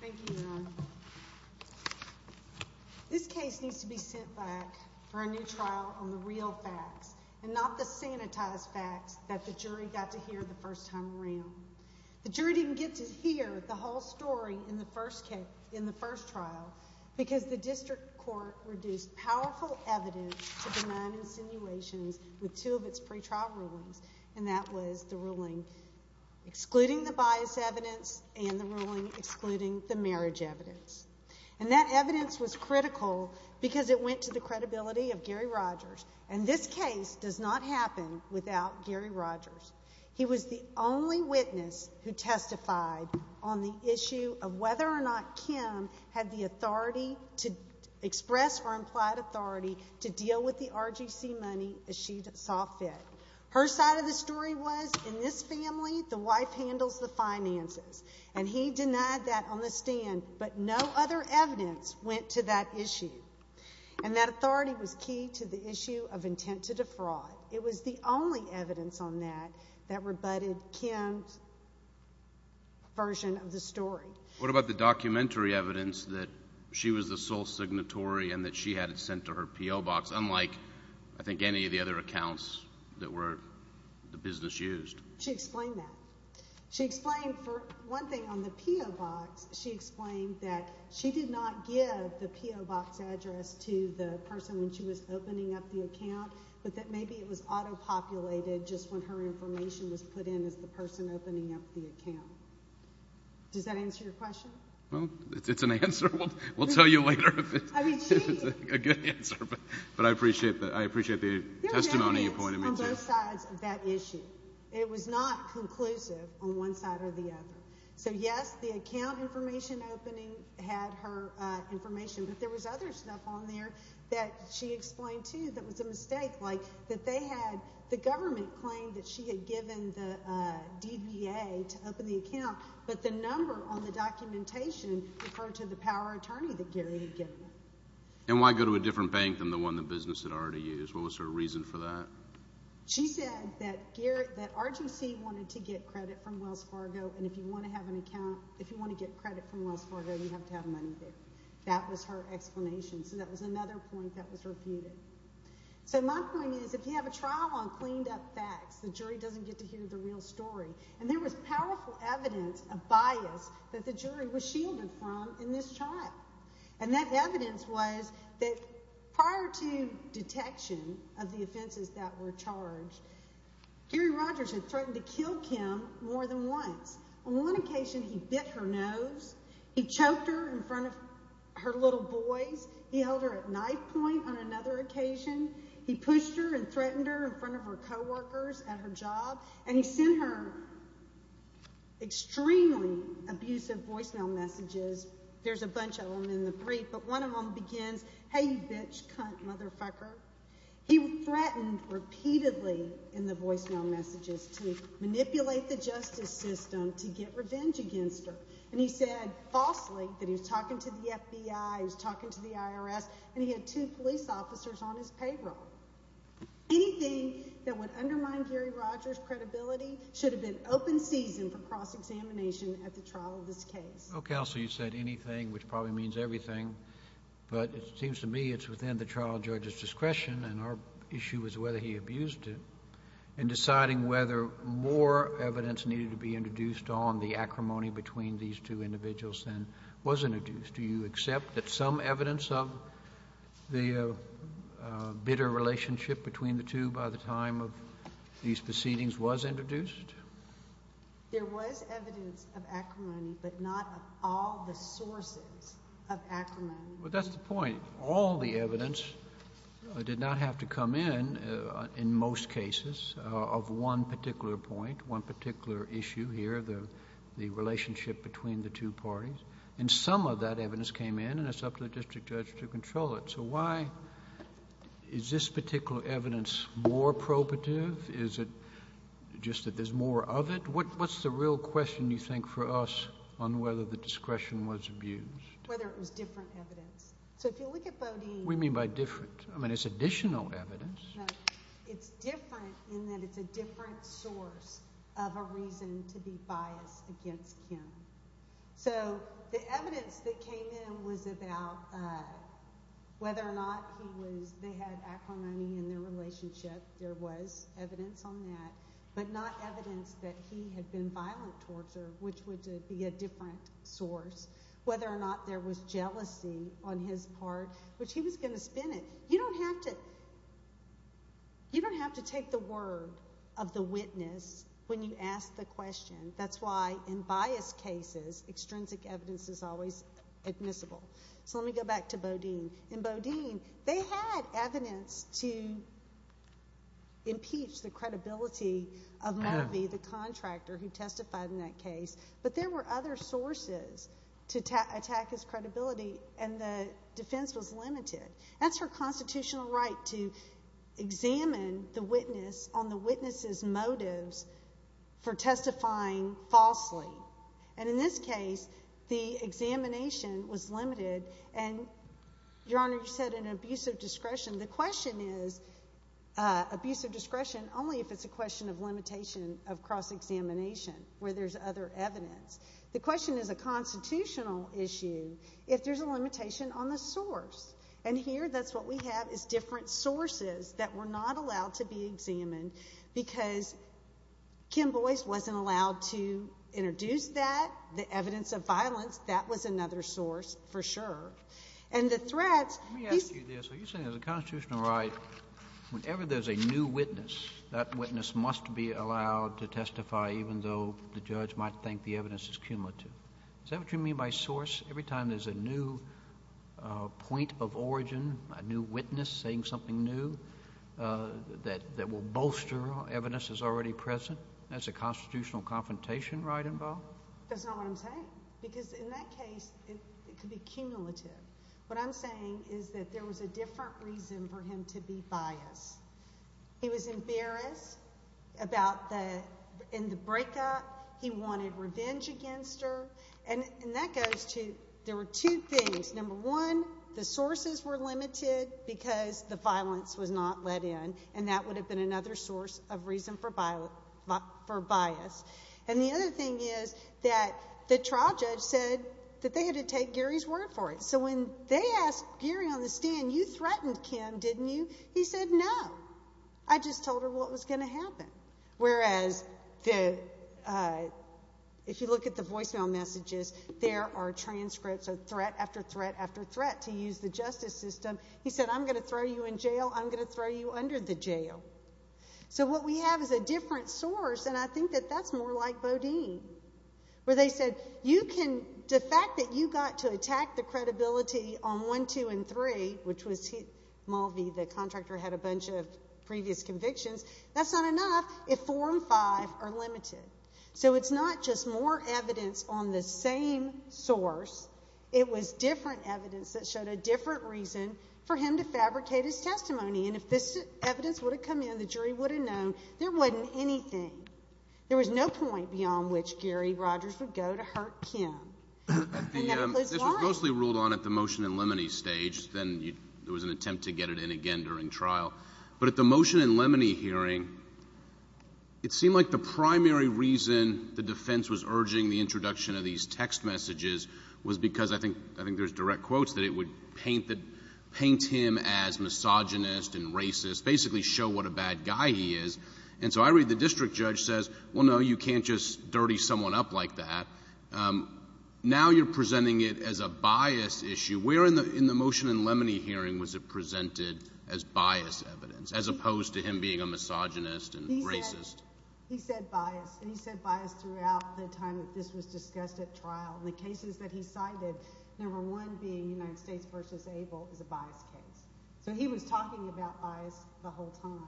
Thank you, Ron. This case needs to be sent back for a new trial on the real facts and not the sanitized facts that the jury got to hear the first time around. The jury didn't get to hear the whole story in the first trial because the district court reduced powerful evidence to benign insinuations with two of its pre-trial rulings, and that was the ruling excluding the bias evidence and the ruling excluding the marriage evidence. And that evidence was critical because it went to the credibility of Gary Rogers. And this case does not happen without Gary Rogers. He was the only witness who testified on the to deal with the RGC money as she saw fit. Her side of the story was, in this family, the wife handles the finances. And he denied that on the stand, but no other evidence went to that issue. And that authority was key to the issue of intent to defraud. It was the only evidence on that that rebutted Kim's version of the story. What about the documentary evidence that she was the sole signatory and that she had it in her P.O. box, unlike, I think, any of the other accounts that were the business used? She explained that. She explained, for one thing, on the P.O. box, she explained that she did not give the P.O. box address to the person when she was opening up the account, but that maybe it was auto-populated just when her information was put in as the person opening up the account. Does that answer your question? Well, it's an answer. We'll tell you later if it's a good answer. But I appreciate that. I appreciate the testimony you pointed me to. There were evidence on both sides of that issue. It was not conclusive on one side or the other. So, yes, the account information opening had her information, but there was other stuff on there that she explained, too, that was a mistake, like that they had the government claim that she had given the DBA to open the account, but the number on the documentation referred to the power attorney that Gary had given her. And why go to a different bank than the one the business had already used? What was her reason for that? She said that RGC wanted to get credit from Wells Fargo, and if you want to have an account – if you want to get credit from Wells Fargo, you have to have money there. That was her explanation. So that was another point that was refuted. So my point is, if you have a trial on cleaned-up facts, the jury doesn't get to hear the real story. And there was powerful evidence of bias that the jury was shielded from in this trial. And that evidence was that prior to detection of the offenses that were charged, Gary Rogers had threatened to kill Kim more than once. On one occasion, he bit her nose, he choked her in front of her little boys, he held her at knife point on another occasion, he pushed her and threatened her in front of her co-workers at her job, and he sent her extremely abusive voicemail messages. There's a bunch of them in the brief, but one of them begins, hey you bitch, cunt, motherfucker. He threatened repeatedly in the voicemail messages to manipulate the justice system to get revenge against her. And he said falsely that he was talking to the FBI, he was talking to the IRS, and he had two police officers on his payroll. Anything that would undermine Gary Rogers' credibility should have been open season for cross-examination at the trial of this case. Counsel, you said anything, which probably means everything, but it seems to me it's within the trial judge's discretion, and our issue is whether he abused it. In deciding whether more evidence needed to be introduced on the acrimony between these two individuals was introduced, do you accept that some evidence of the bitter relationship between the two by the time of these proceedings was introduced? There was evidence of acrimony, but not of all the sources of acrimony. But that's the point. All the evidence did not have to come in, in most cases, of one particular point, one particular issue here, the relationship between the two parties. And some of that evidence came in, and it's up to the district judge to control it. So why is this particular evidence more probative? Is it just that there's more of it? What's the real question, you think, for us on whether the discretion was abused? Whether it was different evidence. So if you look at Bodine... What do you mean by different? I mean it's additional evidence. It's different in that it's a different source of a reason to be biased against him. So the evidence that came in was about whether or not they had acrimony in their relationship. There was evidence on that, but not evidence that he had been violent towards her, which would be a different source. Whether or not there was jealousy on his part, which he was going to spin it. You don't have to take the word of the witness when you ask the question. That's why in biased cases, extrinsic evidence is always admissible. So let me go back to Bodine. In Bodine, they had evidence to impeach the credibility of Murphy, the contractor who testified in that case. But there were other sources to attack his credibility, and the defense was limited. That's her constitutional right to examine the witness on the witness's motives for testifying falsely. And in this case, the examination was limited, and Your Honor, you said an abuse of discretion. The question is abuse of discretion only if it's a question of limitation of cross-examination, where there's other evidence. The question is a constitutional issue if there's a limitation on the source. And here, that's what we have is different sources that were not allowed to be examined, because Kim Boyce wasn't allowed to introduce that. The evidence of violence, that was another source for sure. And the threats— Let me ask you this. Are you saying there's a constitutional right, whenever there's a new witness, that witness must be allowed to testify even though the judge might think the evidence is cumulative? Is that what you mean by source? Every time there's a new point of origin, a new witness saying something new, that will bolster evidence that's already present? That's a constitutional confrontation right involved? That's not what I'm saying. Because in that case, it could be cumulative. What I'm saying is that there was a different reason for him to be biased. He was embarrassed about the—in the breakup. He wanted revenge against her. And that goes to—there were two things. Number one, the sources were limited because the violence was not let in, and that would have been another source of reason for bias. And the other thing is that the trial judge said that they had to take Gary's word for it. So when they asked Gary on the stand, you threatened Kim, didn't you? He said, no. I just told her what was going to happen. Whereas the—if you look at the voicemail messages, there are transcripts of threat after threat after threat to use the justice system. He said, I'm going to throw you in jail. I'm going to throw you under the jail. So what we have is a different source, and I think that that's more like Bodine, where they said, you can—the fact that you the contractor had a bunch of previous convictions, that's not enough if four and five are limited. So it's not just more evidence on the same source. It was different evidence that showed a different reason for him to fabricate his testimony. And if this evidence would have come in, the jury would have known, there wasn't anything. There was no point beyond which Gary Rogers would go to hurt Kim. And that goes mostly ruled on at the motion in limine stage. Then there was an attempt to get it in again during trial. But at the motion in limine hearing, it seemed like the primary reason the defense was urging the introduction of these text messages was because, I think there's direct quotes, that it would paint him as misogynist and racist, basically show what a bad guy he is. And so I read the district judge says, well, no, you can't just dirty someone up like that. Now you're presenting it as a bias issue. Where in the motion in limine hearing was it presented as bias evidence, as opposed to him being a misogynist and racist? He said bias. And he said bias throughout the time that this was discussed at trial. And the cases that he cited, number one being United States v. Abel is a bias case. So he was talking about bias the whole time.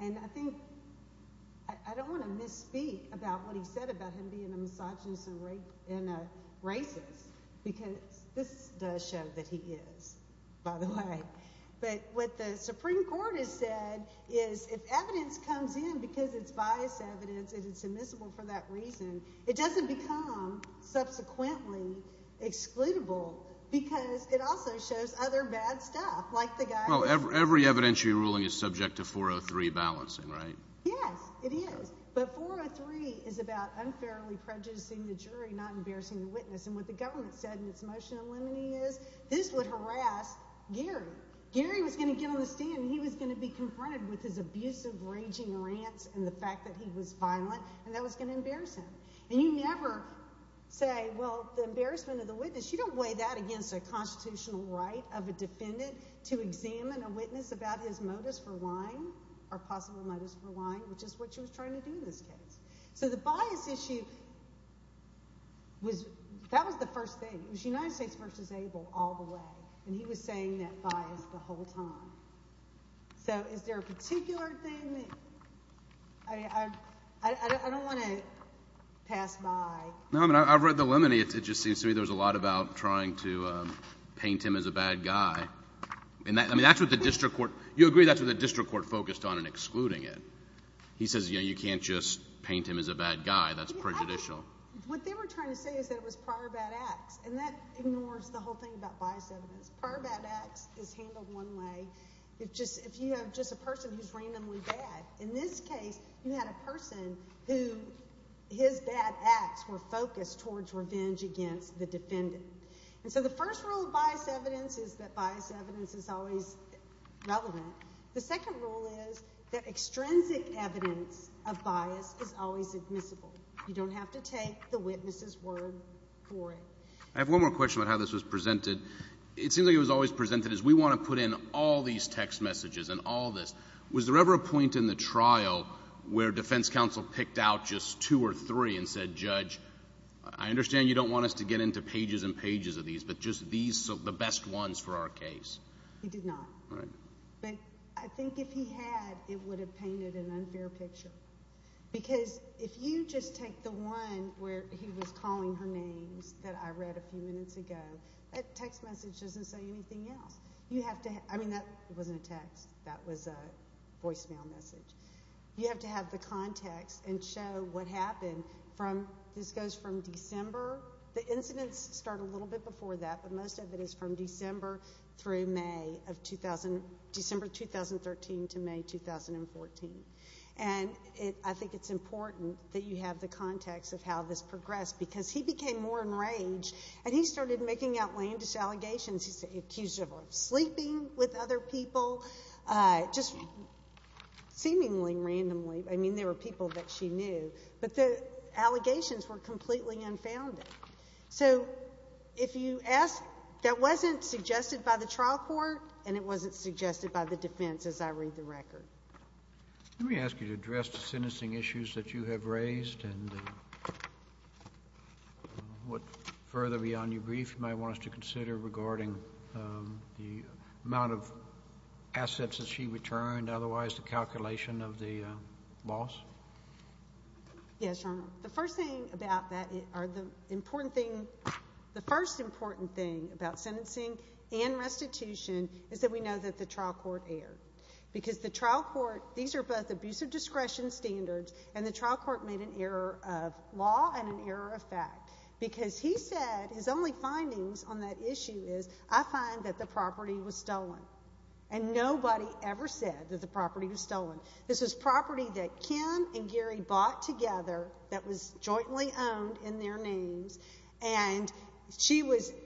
And I think—I don't want to misspeak about what he said about him being a misogynist and a racist, because this does show that he is, by the way. But what the Supreme Court has said is if evidence comes in because it's bias evidence and it's admissible for that reason, it doesn't become subsequently excludable because it also shows other bad stuff, like the guy— Well, every evidentiary ruling is subject to 403 balancing, right? Yes, it is. But 403 is about unfairly prejudicing the jury, not embarrassing the witness. And what the government said in its motion in limine is this would harass Gary. Gary was going to get on the stand and he was going to be confronted with his abusive, raging rants and the fact that he was violent, and that was going to embarrass him. And you never say, well, the embarrassment of the witness—you don't weigh that against a constitutional right of a defendant to examine a witness about his motives for lying or possible motives for lying, which is what she was trying to do in this case. So the bias issue was—that was the first thing. It was United States v. Abel all the way. And he was saying that bias the whole time. So is there a particular thing that— I don't want to pass by— No, I mean, I've read the limine. It just seems to me there was a lot about trying to He says, you know, you can't just paint him as a bad guy. That's prejudicial. What they were trying to say is that it was prior bad acts, and that ignores the whole thing about bias evidence. Prior bad acts is handled one way if you have just a person who's randomly bad. In this case, you had a person who his bad acts were focused towards revenge against the defendant. And so the first rule of bias evidence is that bias evidence is always relevant. The second rule is that extrinsic evidence of bias is always admissible. You don't have to take the witness's word for it. I have one more question about how this was presented. It seems like it was always presented as we want to put in all these text messages and all this. Was there ever a point in the trial where defense counsel picked out just two or three and said, Judge, I understand you don't want us to get into pages and pages of these, but just these are the best ones for our case? He did not. But I think if he had, it would have painted an unfair picture. Because if you just take the one where he was calling her names that I read a few minutes ago, that text message doesn't say anything else. I mean, that wasn't a text. That was a voicemail message. You have to have the context and show what happened. This goes from December. The incidents start a little bit before that, but most of it is from December through May of 2013 to May 2014. And I think it's important that you have the context of how this progressed. Because he became more enraged, and he started making outlandish allegations. He accused her of sleeping with other people, just seemingly randomly. I mean, there were people that she knew. But the allegations were completely unfounded. So if you ask, that wasn't suggested by the trial court, and it wasn't suggested by the defense, as I read the record. Let me ask you to address the sentencing issues that you have raised and what further beyond your brief you might want us to consider regarding the amount of assets that she returned, otherwise the calculation of the loss. Yes, Your Honor. The first thing about that or the important thing, the first important thing about sentencing and restitution is that we know that the trial court erred. Because the trial court, these are both abusive discretion standards, and the trial court made an error of law and an error of fact. Because he said his only findings on that issue is, I find that the property was stolen. And nobody ever said that the property was stolen. This was property that Kim and Gary bought together that was jointly owned in their names. And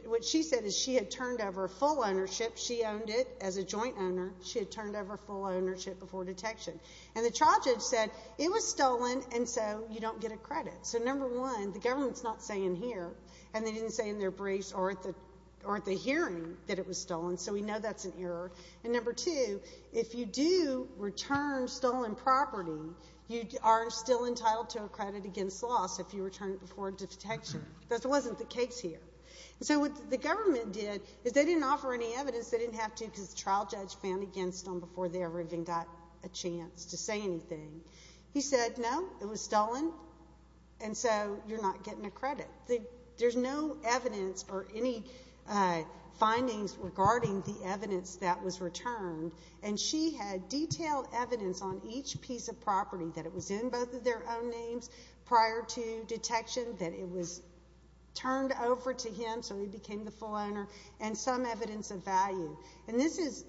what she said is she had turned over full ownership. She owned it as a joint owner. She had turned over full ownership before detection. And the trial judge said it was stolen, and so you don't get a credit. So number one, the government's not saying here, and they didn't say in their briefs or at the hearing that it was stolen, so we know that's an error. And number two, if you do return stolen property, you are still entitled to a credit against loss if you return it before detection. That wasn't the case here. So what the government did is they didn't offer any evidence. They didn't have to because the trial judge fanned against them before they ever even got a chance to say anything. He said, no, it was stolen, and so you're not getting a credit. There's no evidence or any findings regarding the evidence that was returned. And she had detailed evidence on each piece of property that it was in both of their own names prior to detection, that it was turned over to him so he became the full owner, and some evidence of value. And this is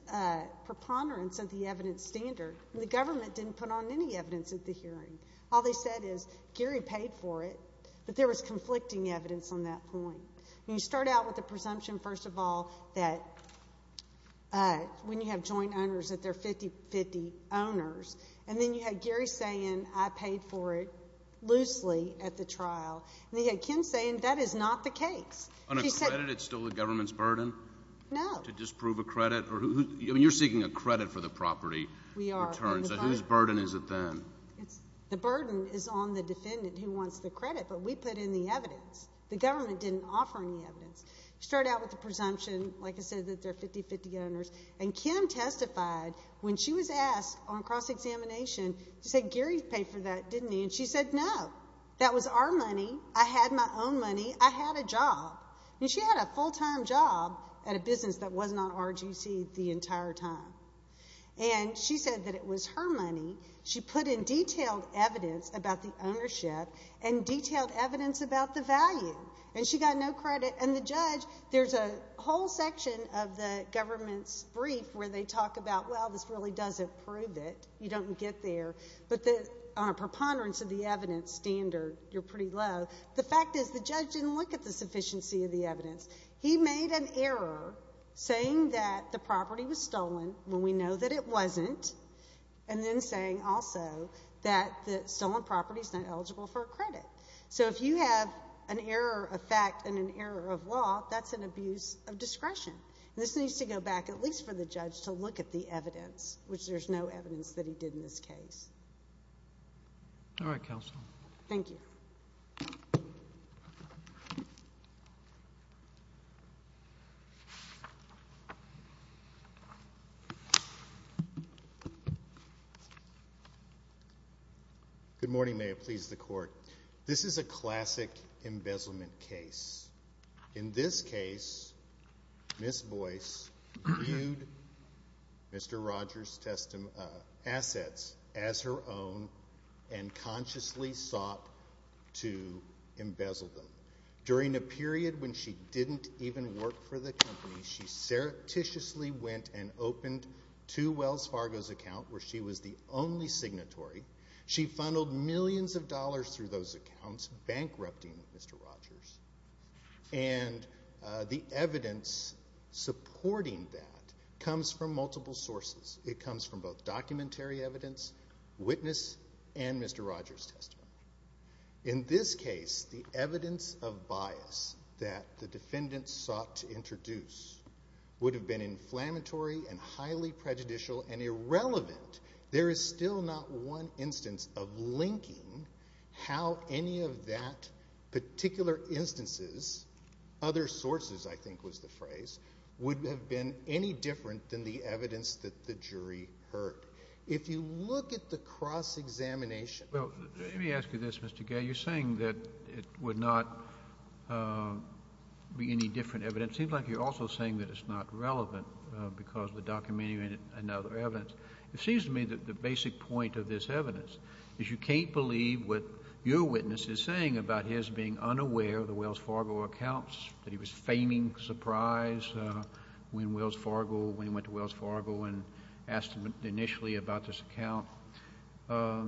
preponderance of the evidence standard. The government didn't put on any evidence at the hearing. All they said is Gary paid for it, but there was conflicting evidence on that point. You start out with the presumption, first of all, that when you have joint owners that they're 50-50 owners, and then you had Gary saying I paid for it loosely at the trial, and then you had Kim saying that is not the case. On a credit, it's still the government's burden? No. To disprove a credit? I mean, you're seeking a credit for the property. We are. Whose burden is it then? The burden is on the defendant who wants the credit, but we put in the evidence. The government didn't offer any evidence. You start out with the presumption, like I said, that they're 50-50 owners, and Kim testified when she was asked on cross-examination, she said Gary paid for that, didn't he? And she said no. I had my own money. I had a job. And she had a full-time job at a business that wasn't on RGC the entire time. And she said that it was her money. She put in detailed evidence about the ownership and detailed evidence about the value, and she got no credit. And the judge, there's a whole section of the government's brief where they talk about, well, this really doesn't prove it. You don't get there. But on a preponderance of the evidence standard, you're pretty low. The fact is the judge didn't look at the sufficiency of the evidence. He made an error saying that the property was stolen when we know that it wasn't, and then saying also that the stolen property is not eligible for a credit. So if you have an error of fact and an error of law, that's an abuse of discretion. This needs to go back at least for the judge to look at the evidence, which there's no evidence that he did in this case. All right, counsel. Thank you. Thank you. Good morning. May it please the Court. This is a classic embezzlement case. In this case, Ms. Boyce viewed Mr. Rogers' assets as her own and consciously sought to embezzle them. During a period when she didn't even work for the company, she surreptitiously went and opened two Wells Fargo's accounts where she was the only signatory. She funneled millions of dollars through those accounts, bankrupting Mr. Rogers. And the evidence supporting that comes from multiple sources. It comes from both documentary evidence, witness, and Mr. Rogers' testimony. In this case, the evidence of bias that the defendants sought to introduce would have been inflammatory and highly prejudicial and irrelevant. There is still not one instance of linking how any of that particular instances, other sources I think was the phrase, would have been any different than the evidence that the jury heard. If you look at the cross-examination. Well, let me ask you this, Mr. Gay. You're saying that it would not be any different evidence. It seems like you're also saying that it's not relevant because the documentary and other evidence. It seems to me that the basic point of this evidence is you can't believe what your witness is saying about his being unaware of the Wells Fargo accounts, that he was a feigning surprise when he went to Wells Fargo and asked initially about this account. So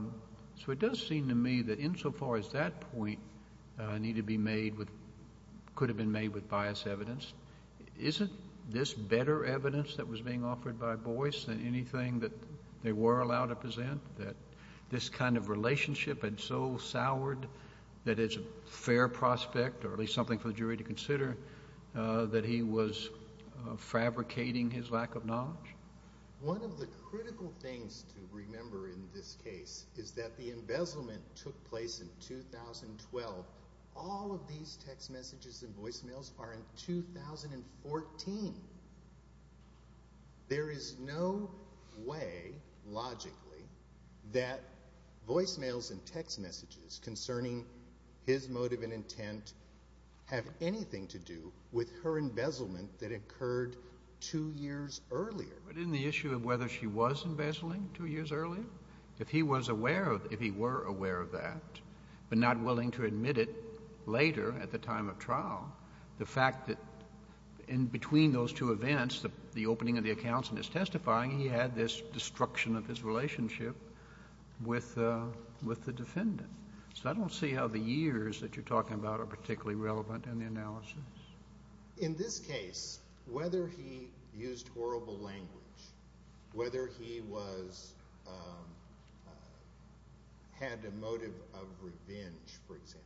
it does seem to me that insofar as that point could have been made with bias evidence, isn't this better evidence that was being offered by Boyce than anything that they were allowed to present, that this kind of relationship had so soured that it's a fair prospect, or at least something for the jury to consider, that he was fabricating his lack of knowledge? One of the critical things to remember in this case is that the embezzlement took place in 2012. All of these text messages and voicemails are in 2014. There is no way, logically, that voicemails and text messages concerning his motive and intent have anything to do with her embezzlement that occurred two years earlier. But in the issue of whether she was embezzling two years earlier, if he were aware of that but not willing to admit it later at the time of trial, the fact that in between those two events, the opening of the accounts and his testifying, he had this destruction of his relationship with the defendant. So I don't see how the years that you're talking about are particularly relevant in the analysis. In this case, whether he used horrible language, whether he had a motive of revenge, for example,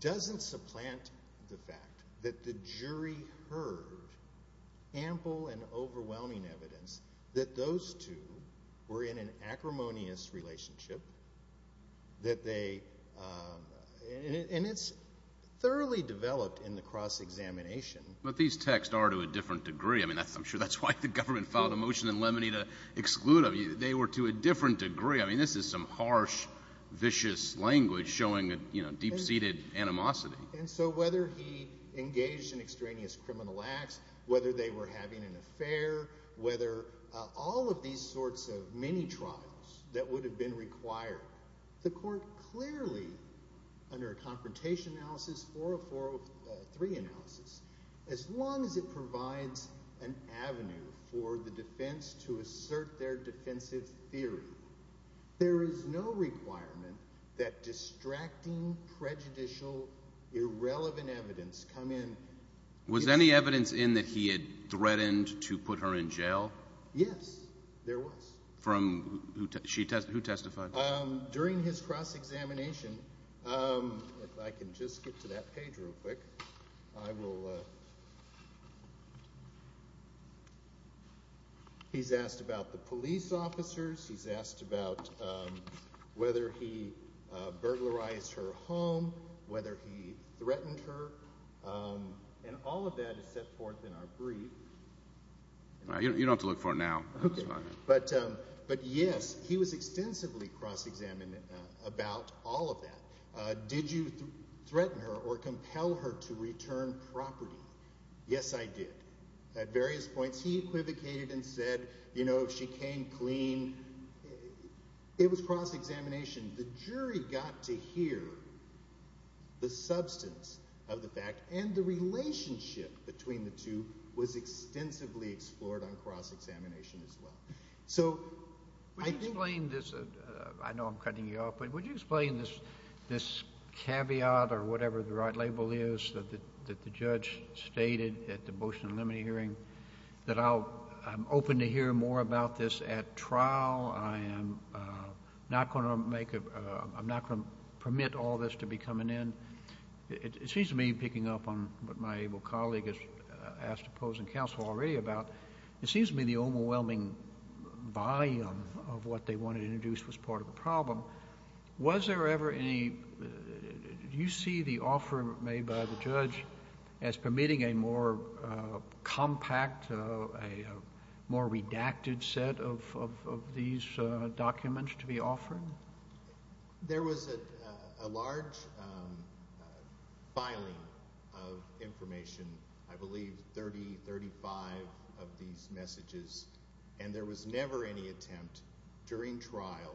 doesn't supplant the fact that the jury heard ample and overwhelming evidence that those two were in an acrimonious relationship. And it's thoroughly developed in the cross-examination. But these texts are to a different degree. I mean, I'm sure that's why the government filed a motion in Lemony to exclude them. They were to a different degree. I mean, this is some harsh, vicious language showing deep-seated animosity. And so whether he engaged in extraneous criminal acts, whether they were having an affair, whether all of these sorts of mini-trials that would have been required, the court clearly, under a confrontation analysis or a 403 analysis, as long as it provides an avenue for the defense to assert their defensive theory, there is no requirement that distracting, prejudicial, irrelevant evidence come in. Was there any evidence in that he had threatened to put her in jail? Yes, there was. From who testified? During his cross-examination, if I can just get to that page real quick, I will. He's asked about the police officers. He's asked about whether he burglarized her home, whether he threatened her. And all of that is set forth in our brief. You don't have to look for it now. But, yes, he was extensively cross-examined about all of that. Did you threaten her or compel her to return property? Yes, I did. At various points, he equivocated and said, you know, she came clean. It was cross-examination. The jury got to hear the substance of the fact, and the relationship between the two was extensively explored on cross-examination as well. So I think— Would you explain this? I know I'm cutting you off, but would you explain this caveat or whatever the right label is that the judge stated at the motion and limit hearing that I'm open to hear more about this at trial, I am not going to make a—I'm not going to permit all this to be coming in? It seems to me, picking up on what my able colleague has asked the opposing counsel already about, it seems to me the overwhelming volume of what they wanted to introduce was part of the problem. Was there ever any—do you see the offer made by the judge as permitting a more compact, a more redacted set of these documents to be offered? There was a large filing of information, I believe 30, 35 of these messages, and there was never any attempt during trial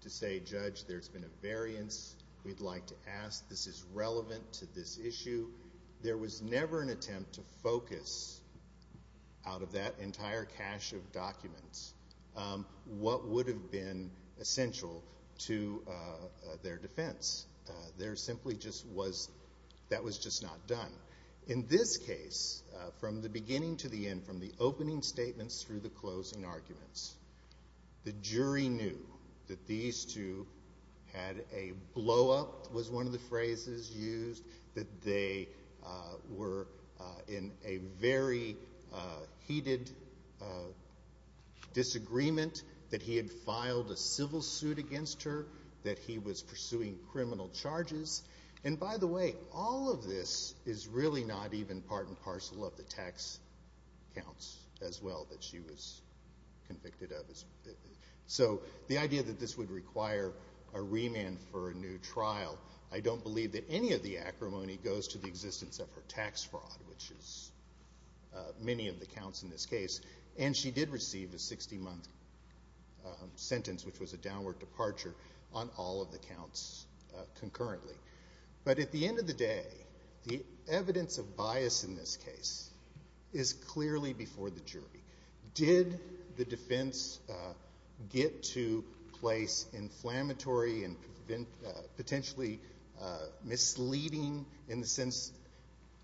to say, Judge, there's been a variance, we'd like to ask, this is relevant to this issue. There was never an attempt to focus out of that entire cache of documents what would have been essential to their defense. There simply just was—that was just not done. In this case, from the beginning to the end, from the opening statements through the closing arguments, the jury knew that these two had a blow-up, was one of the phrases used, that they were in a very heated disagreement, that he had filed a civil suit against her, that he was pursuing criminal charges. And by the way, all of this is really not even part and parcel of the tax counts as well that she was convicted of. So the idea that this would require a remand for a new trial, I don't believe that any of the acrimony goes to the existence of her tax fraud, which is many of the counts in this case. And she did receive a 60-month sentence, which was a downward departure on all of the counts concurrently. But at the end of the day, the evidence of bias in this case is clearly before the jury. Did the defense get to a place inflammatory and potentially misleading in the sense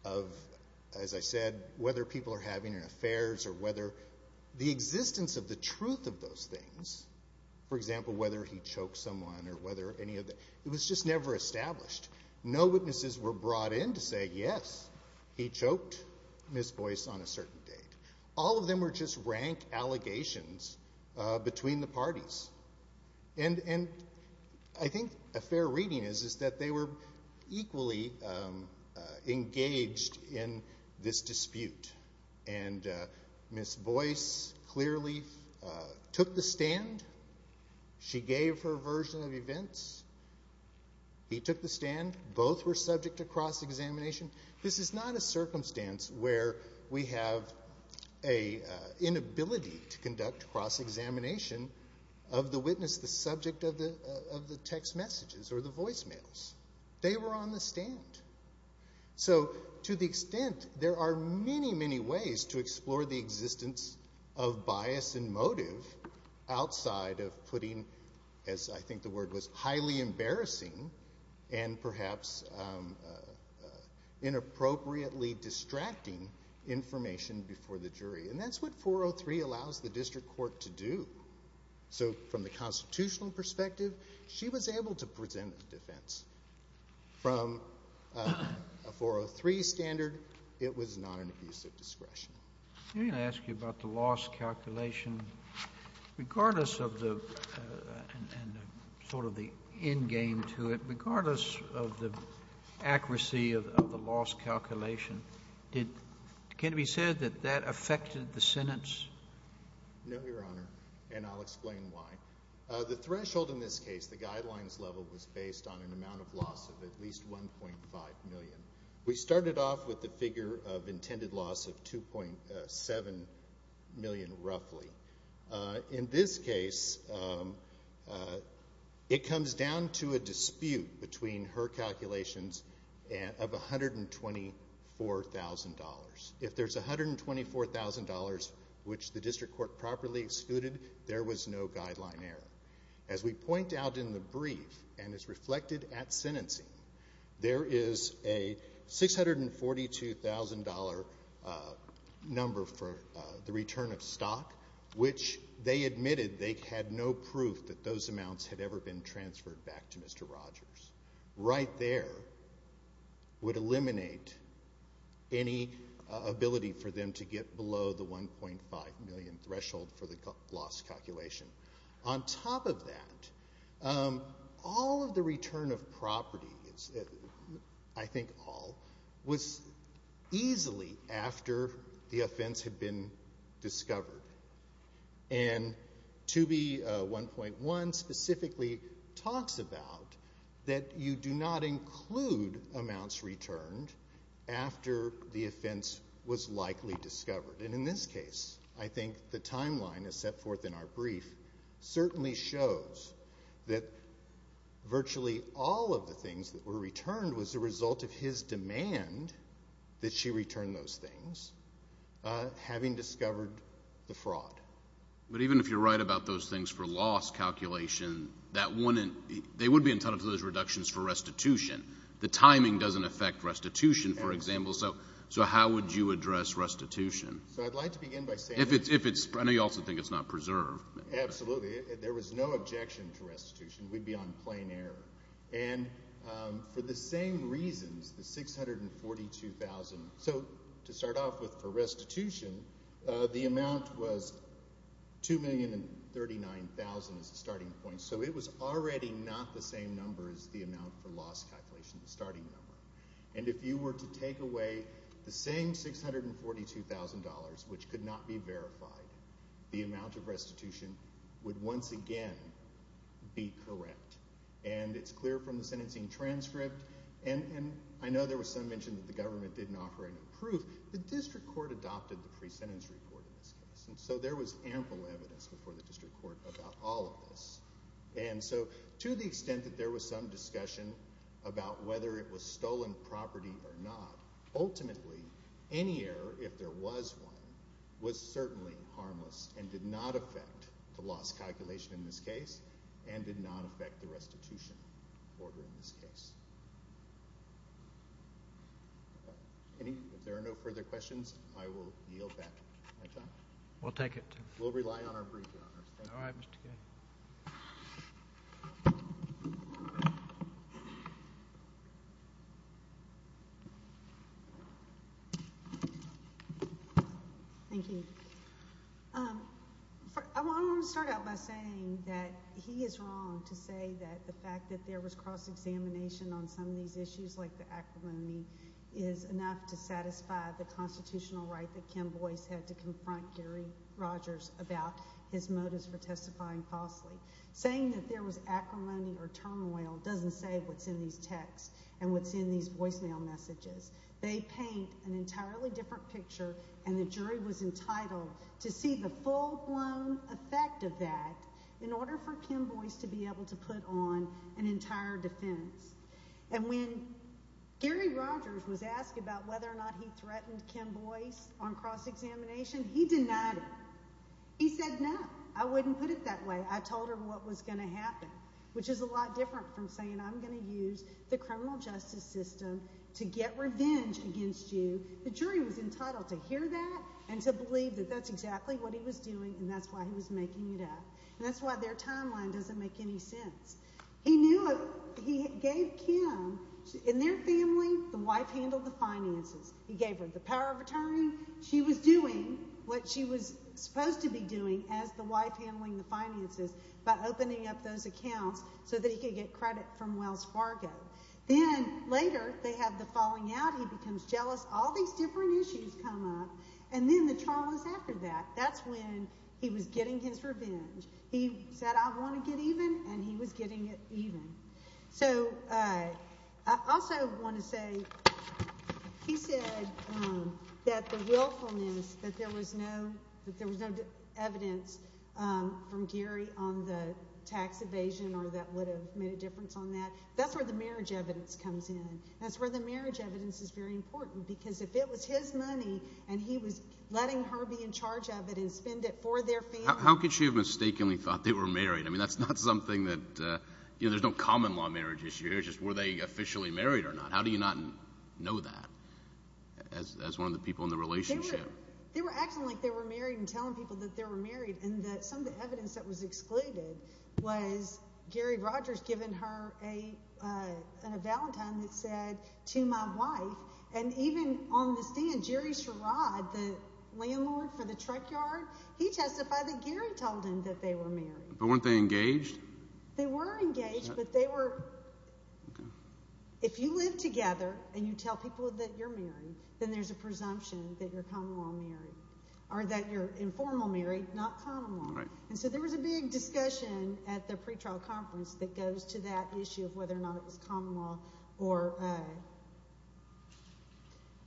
of, as I said, whether people are having an affairs or whether the existence of the truth of those things, for example, whether he choked someone or whether any of that, it was just never established. No witnesses were brought in to say, yes, he choked Ms. Boyce on a certain date. All of them were just rank allegations between the parties. And I think a fair reading is that they were equally engaged in this dispute. And Ms. Boyce clearly took the stand. She gave her version of events. He took the stand. Both were subject to cross-examination. This is not a circumstance where we have an inability to conduct cross-examination of the witness, the subject of the text messages or the voicemails. They were on the stand. So to the extent there are many, many ways to explore the existence of bias and motive outside of putting, as I think the word was, highly embarrassing and perhaps inappropriately distracting information before the jury. And that's what 403 allows the district court to do. So from the constitutional perspective, she was able to present a defense. From a 403 standard, it was not an abuse of discretion. I'm going to ask you about the loss calculation. Regardless of the sort of the end game to it, regardless of the accuracy of the loss calculation, can it be said that that affected the sentence? No, Your Honor, and I'll explain why. The threshold in this case, the guidelines level, was based on an amount of loss of at least 1.5 million. We started off with the figure of intended loss of 2.7 million roughly. In this case, it comes down to a dispute between her calculations of $124,000. If there's $124,000 which the district court properly excluded, there was no guideline error. As we point out in the brief and as reflected at sentencing, there is a $642,000 number for the return of stock, which they admitted they had no proof that those amounts had ever been transferred back to Mr. Rogers. Right there would eliminate any ability for them to get below the 1.5 million threshold for the loss calculation. On top of that, all of the return of property, I think all, was easily after the offense had been discovered. And 2B1.1 specifically talks about that you do not include amounts returned after the offense was likely discovered. And in this case, I think the timeline, as set forth in our brief, certainly shows that virtually all of the things that were returned was the result of his demand that she return those things, having discovered the fraud. But even if you're right about those things for loss calculation, they would be entitled to those reductions for restitution. The timing doesn't affect restitution, for example. So how would you address restitution? So I'd like to begin by saying. I know you also think it's not preserved. Absolutely. There was no objection to restitution. We'd be on plain error. And for the same reasons, the $642,000. So to start off with, for restitution, the amount was $2,039,000 as a starting point. So it was already not the same number as the amount for loss calculation, the starting number. And if you were to take away the same $642,000, which could not be verified, the amount of restitution would once again be correct. And it's clear from the sentencing transcript. And I know there was some mention that the government didn't offer any proof. The district court adopted the pre-sentence report in this case. And so there was ample evidence before the district court about all of this. And so to the extent that there was some discussion about whether it was stolen property or not, ultimately any error, if there was one, was certainly harmless and did not affect the loss calculation in this case and did not affect the restitution order in this case. If there are no further questions, I will yield back my time. We'll take it. We'll rely on our brief, Your Honors. All right, Mr. Kennedy. Thank you. I want to start out by saying that he is wrong to say that the fact that there was cross-examination on some of these issues, like the acrimony, is enough to satisfy the constitutional right that Kim Boyce had to confront Gary Rogers about his motives for testifying falsely. Saying that there was acrimony or turmoil doesn't say what's in these texts and what's in these voicemail messages. They paint an entirely different picture, and the jury was entitled to see the full-blown effect of that in order for Kim Boyce to be able to put on an entire defense. And when Gary Rogers was asked about whether or not he threatened Kim Boyce on cross-examination, he denied it. He said, no, I wouldn't put it that way. I told her what was going to happen, which is a lot different from saying I'm going to use the criminal justice system to get revenge against you. The jury was entitled to hear that and to believe that that's exactly what he was doing, and that's why he was making it up. And that's why their timeline doesn't make any sense. He gave Kim, in their family, the wife handled the finances. He gave her the power of attorney. She was doing what she was supposed to be doing as the wife handling the finances by opening up those accounts so that he could get credit from Wells Fargo. Then later they have the falling out. He becomes jealous. All these different issues come up. And then the traumas after that. That's when he was getting his revenge. He said, I want to get even, and he was getting it even. So I also want to say he said that the willfulness, that there was no evidence from Gary on the tax evasion or that would have made a difference on that, that's where the marriage evidence comes in. That's where the marriage evidence is very important, because if it was his money and he was letting her be in charge of it and spend it for their family. How could she have mistakenly thought they were married? I mean, that's not something that, you know, there's no common law marriage issue. It's just were they officially married or not. How do you not know that as one of the people in the relationship? They were acting like they were married and telling people that they were married and that some of the evidence that was excluded was Gary Rogers giving her a valentine that said to my wife, and even on the stand, Jerry Sherrod, the landlord for the truck yard, he testified that Gary told him that they were married. But weren't they engaged? They were engaged, but they were. If you live together and you tell people that you're married, then there's a presumption that you're common law married or that you're informal married, not common law. And so there was a big discussion at the pretrial conference that goes to that issue of whether or not it was common law or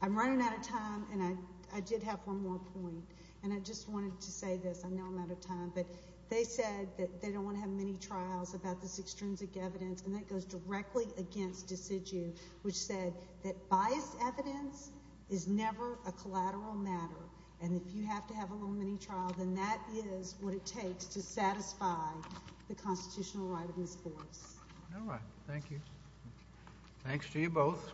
I'm running out of time, and I did have one more point, and I just wanted to say this. I know I'm out of time, but they said that they don't want to have mini-trials about this extrinsic evidence, and that goes directly against decidu, which said that biased evidence is never a collateral matter, and if you have to have a little mini-trial, then that is what it takes to satisfy the constitutional right of these courts. All right. Thank you. Thanks to you both.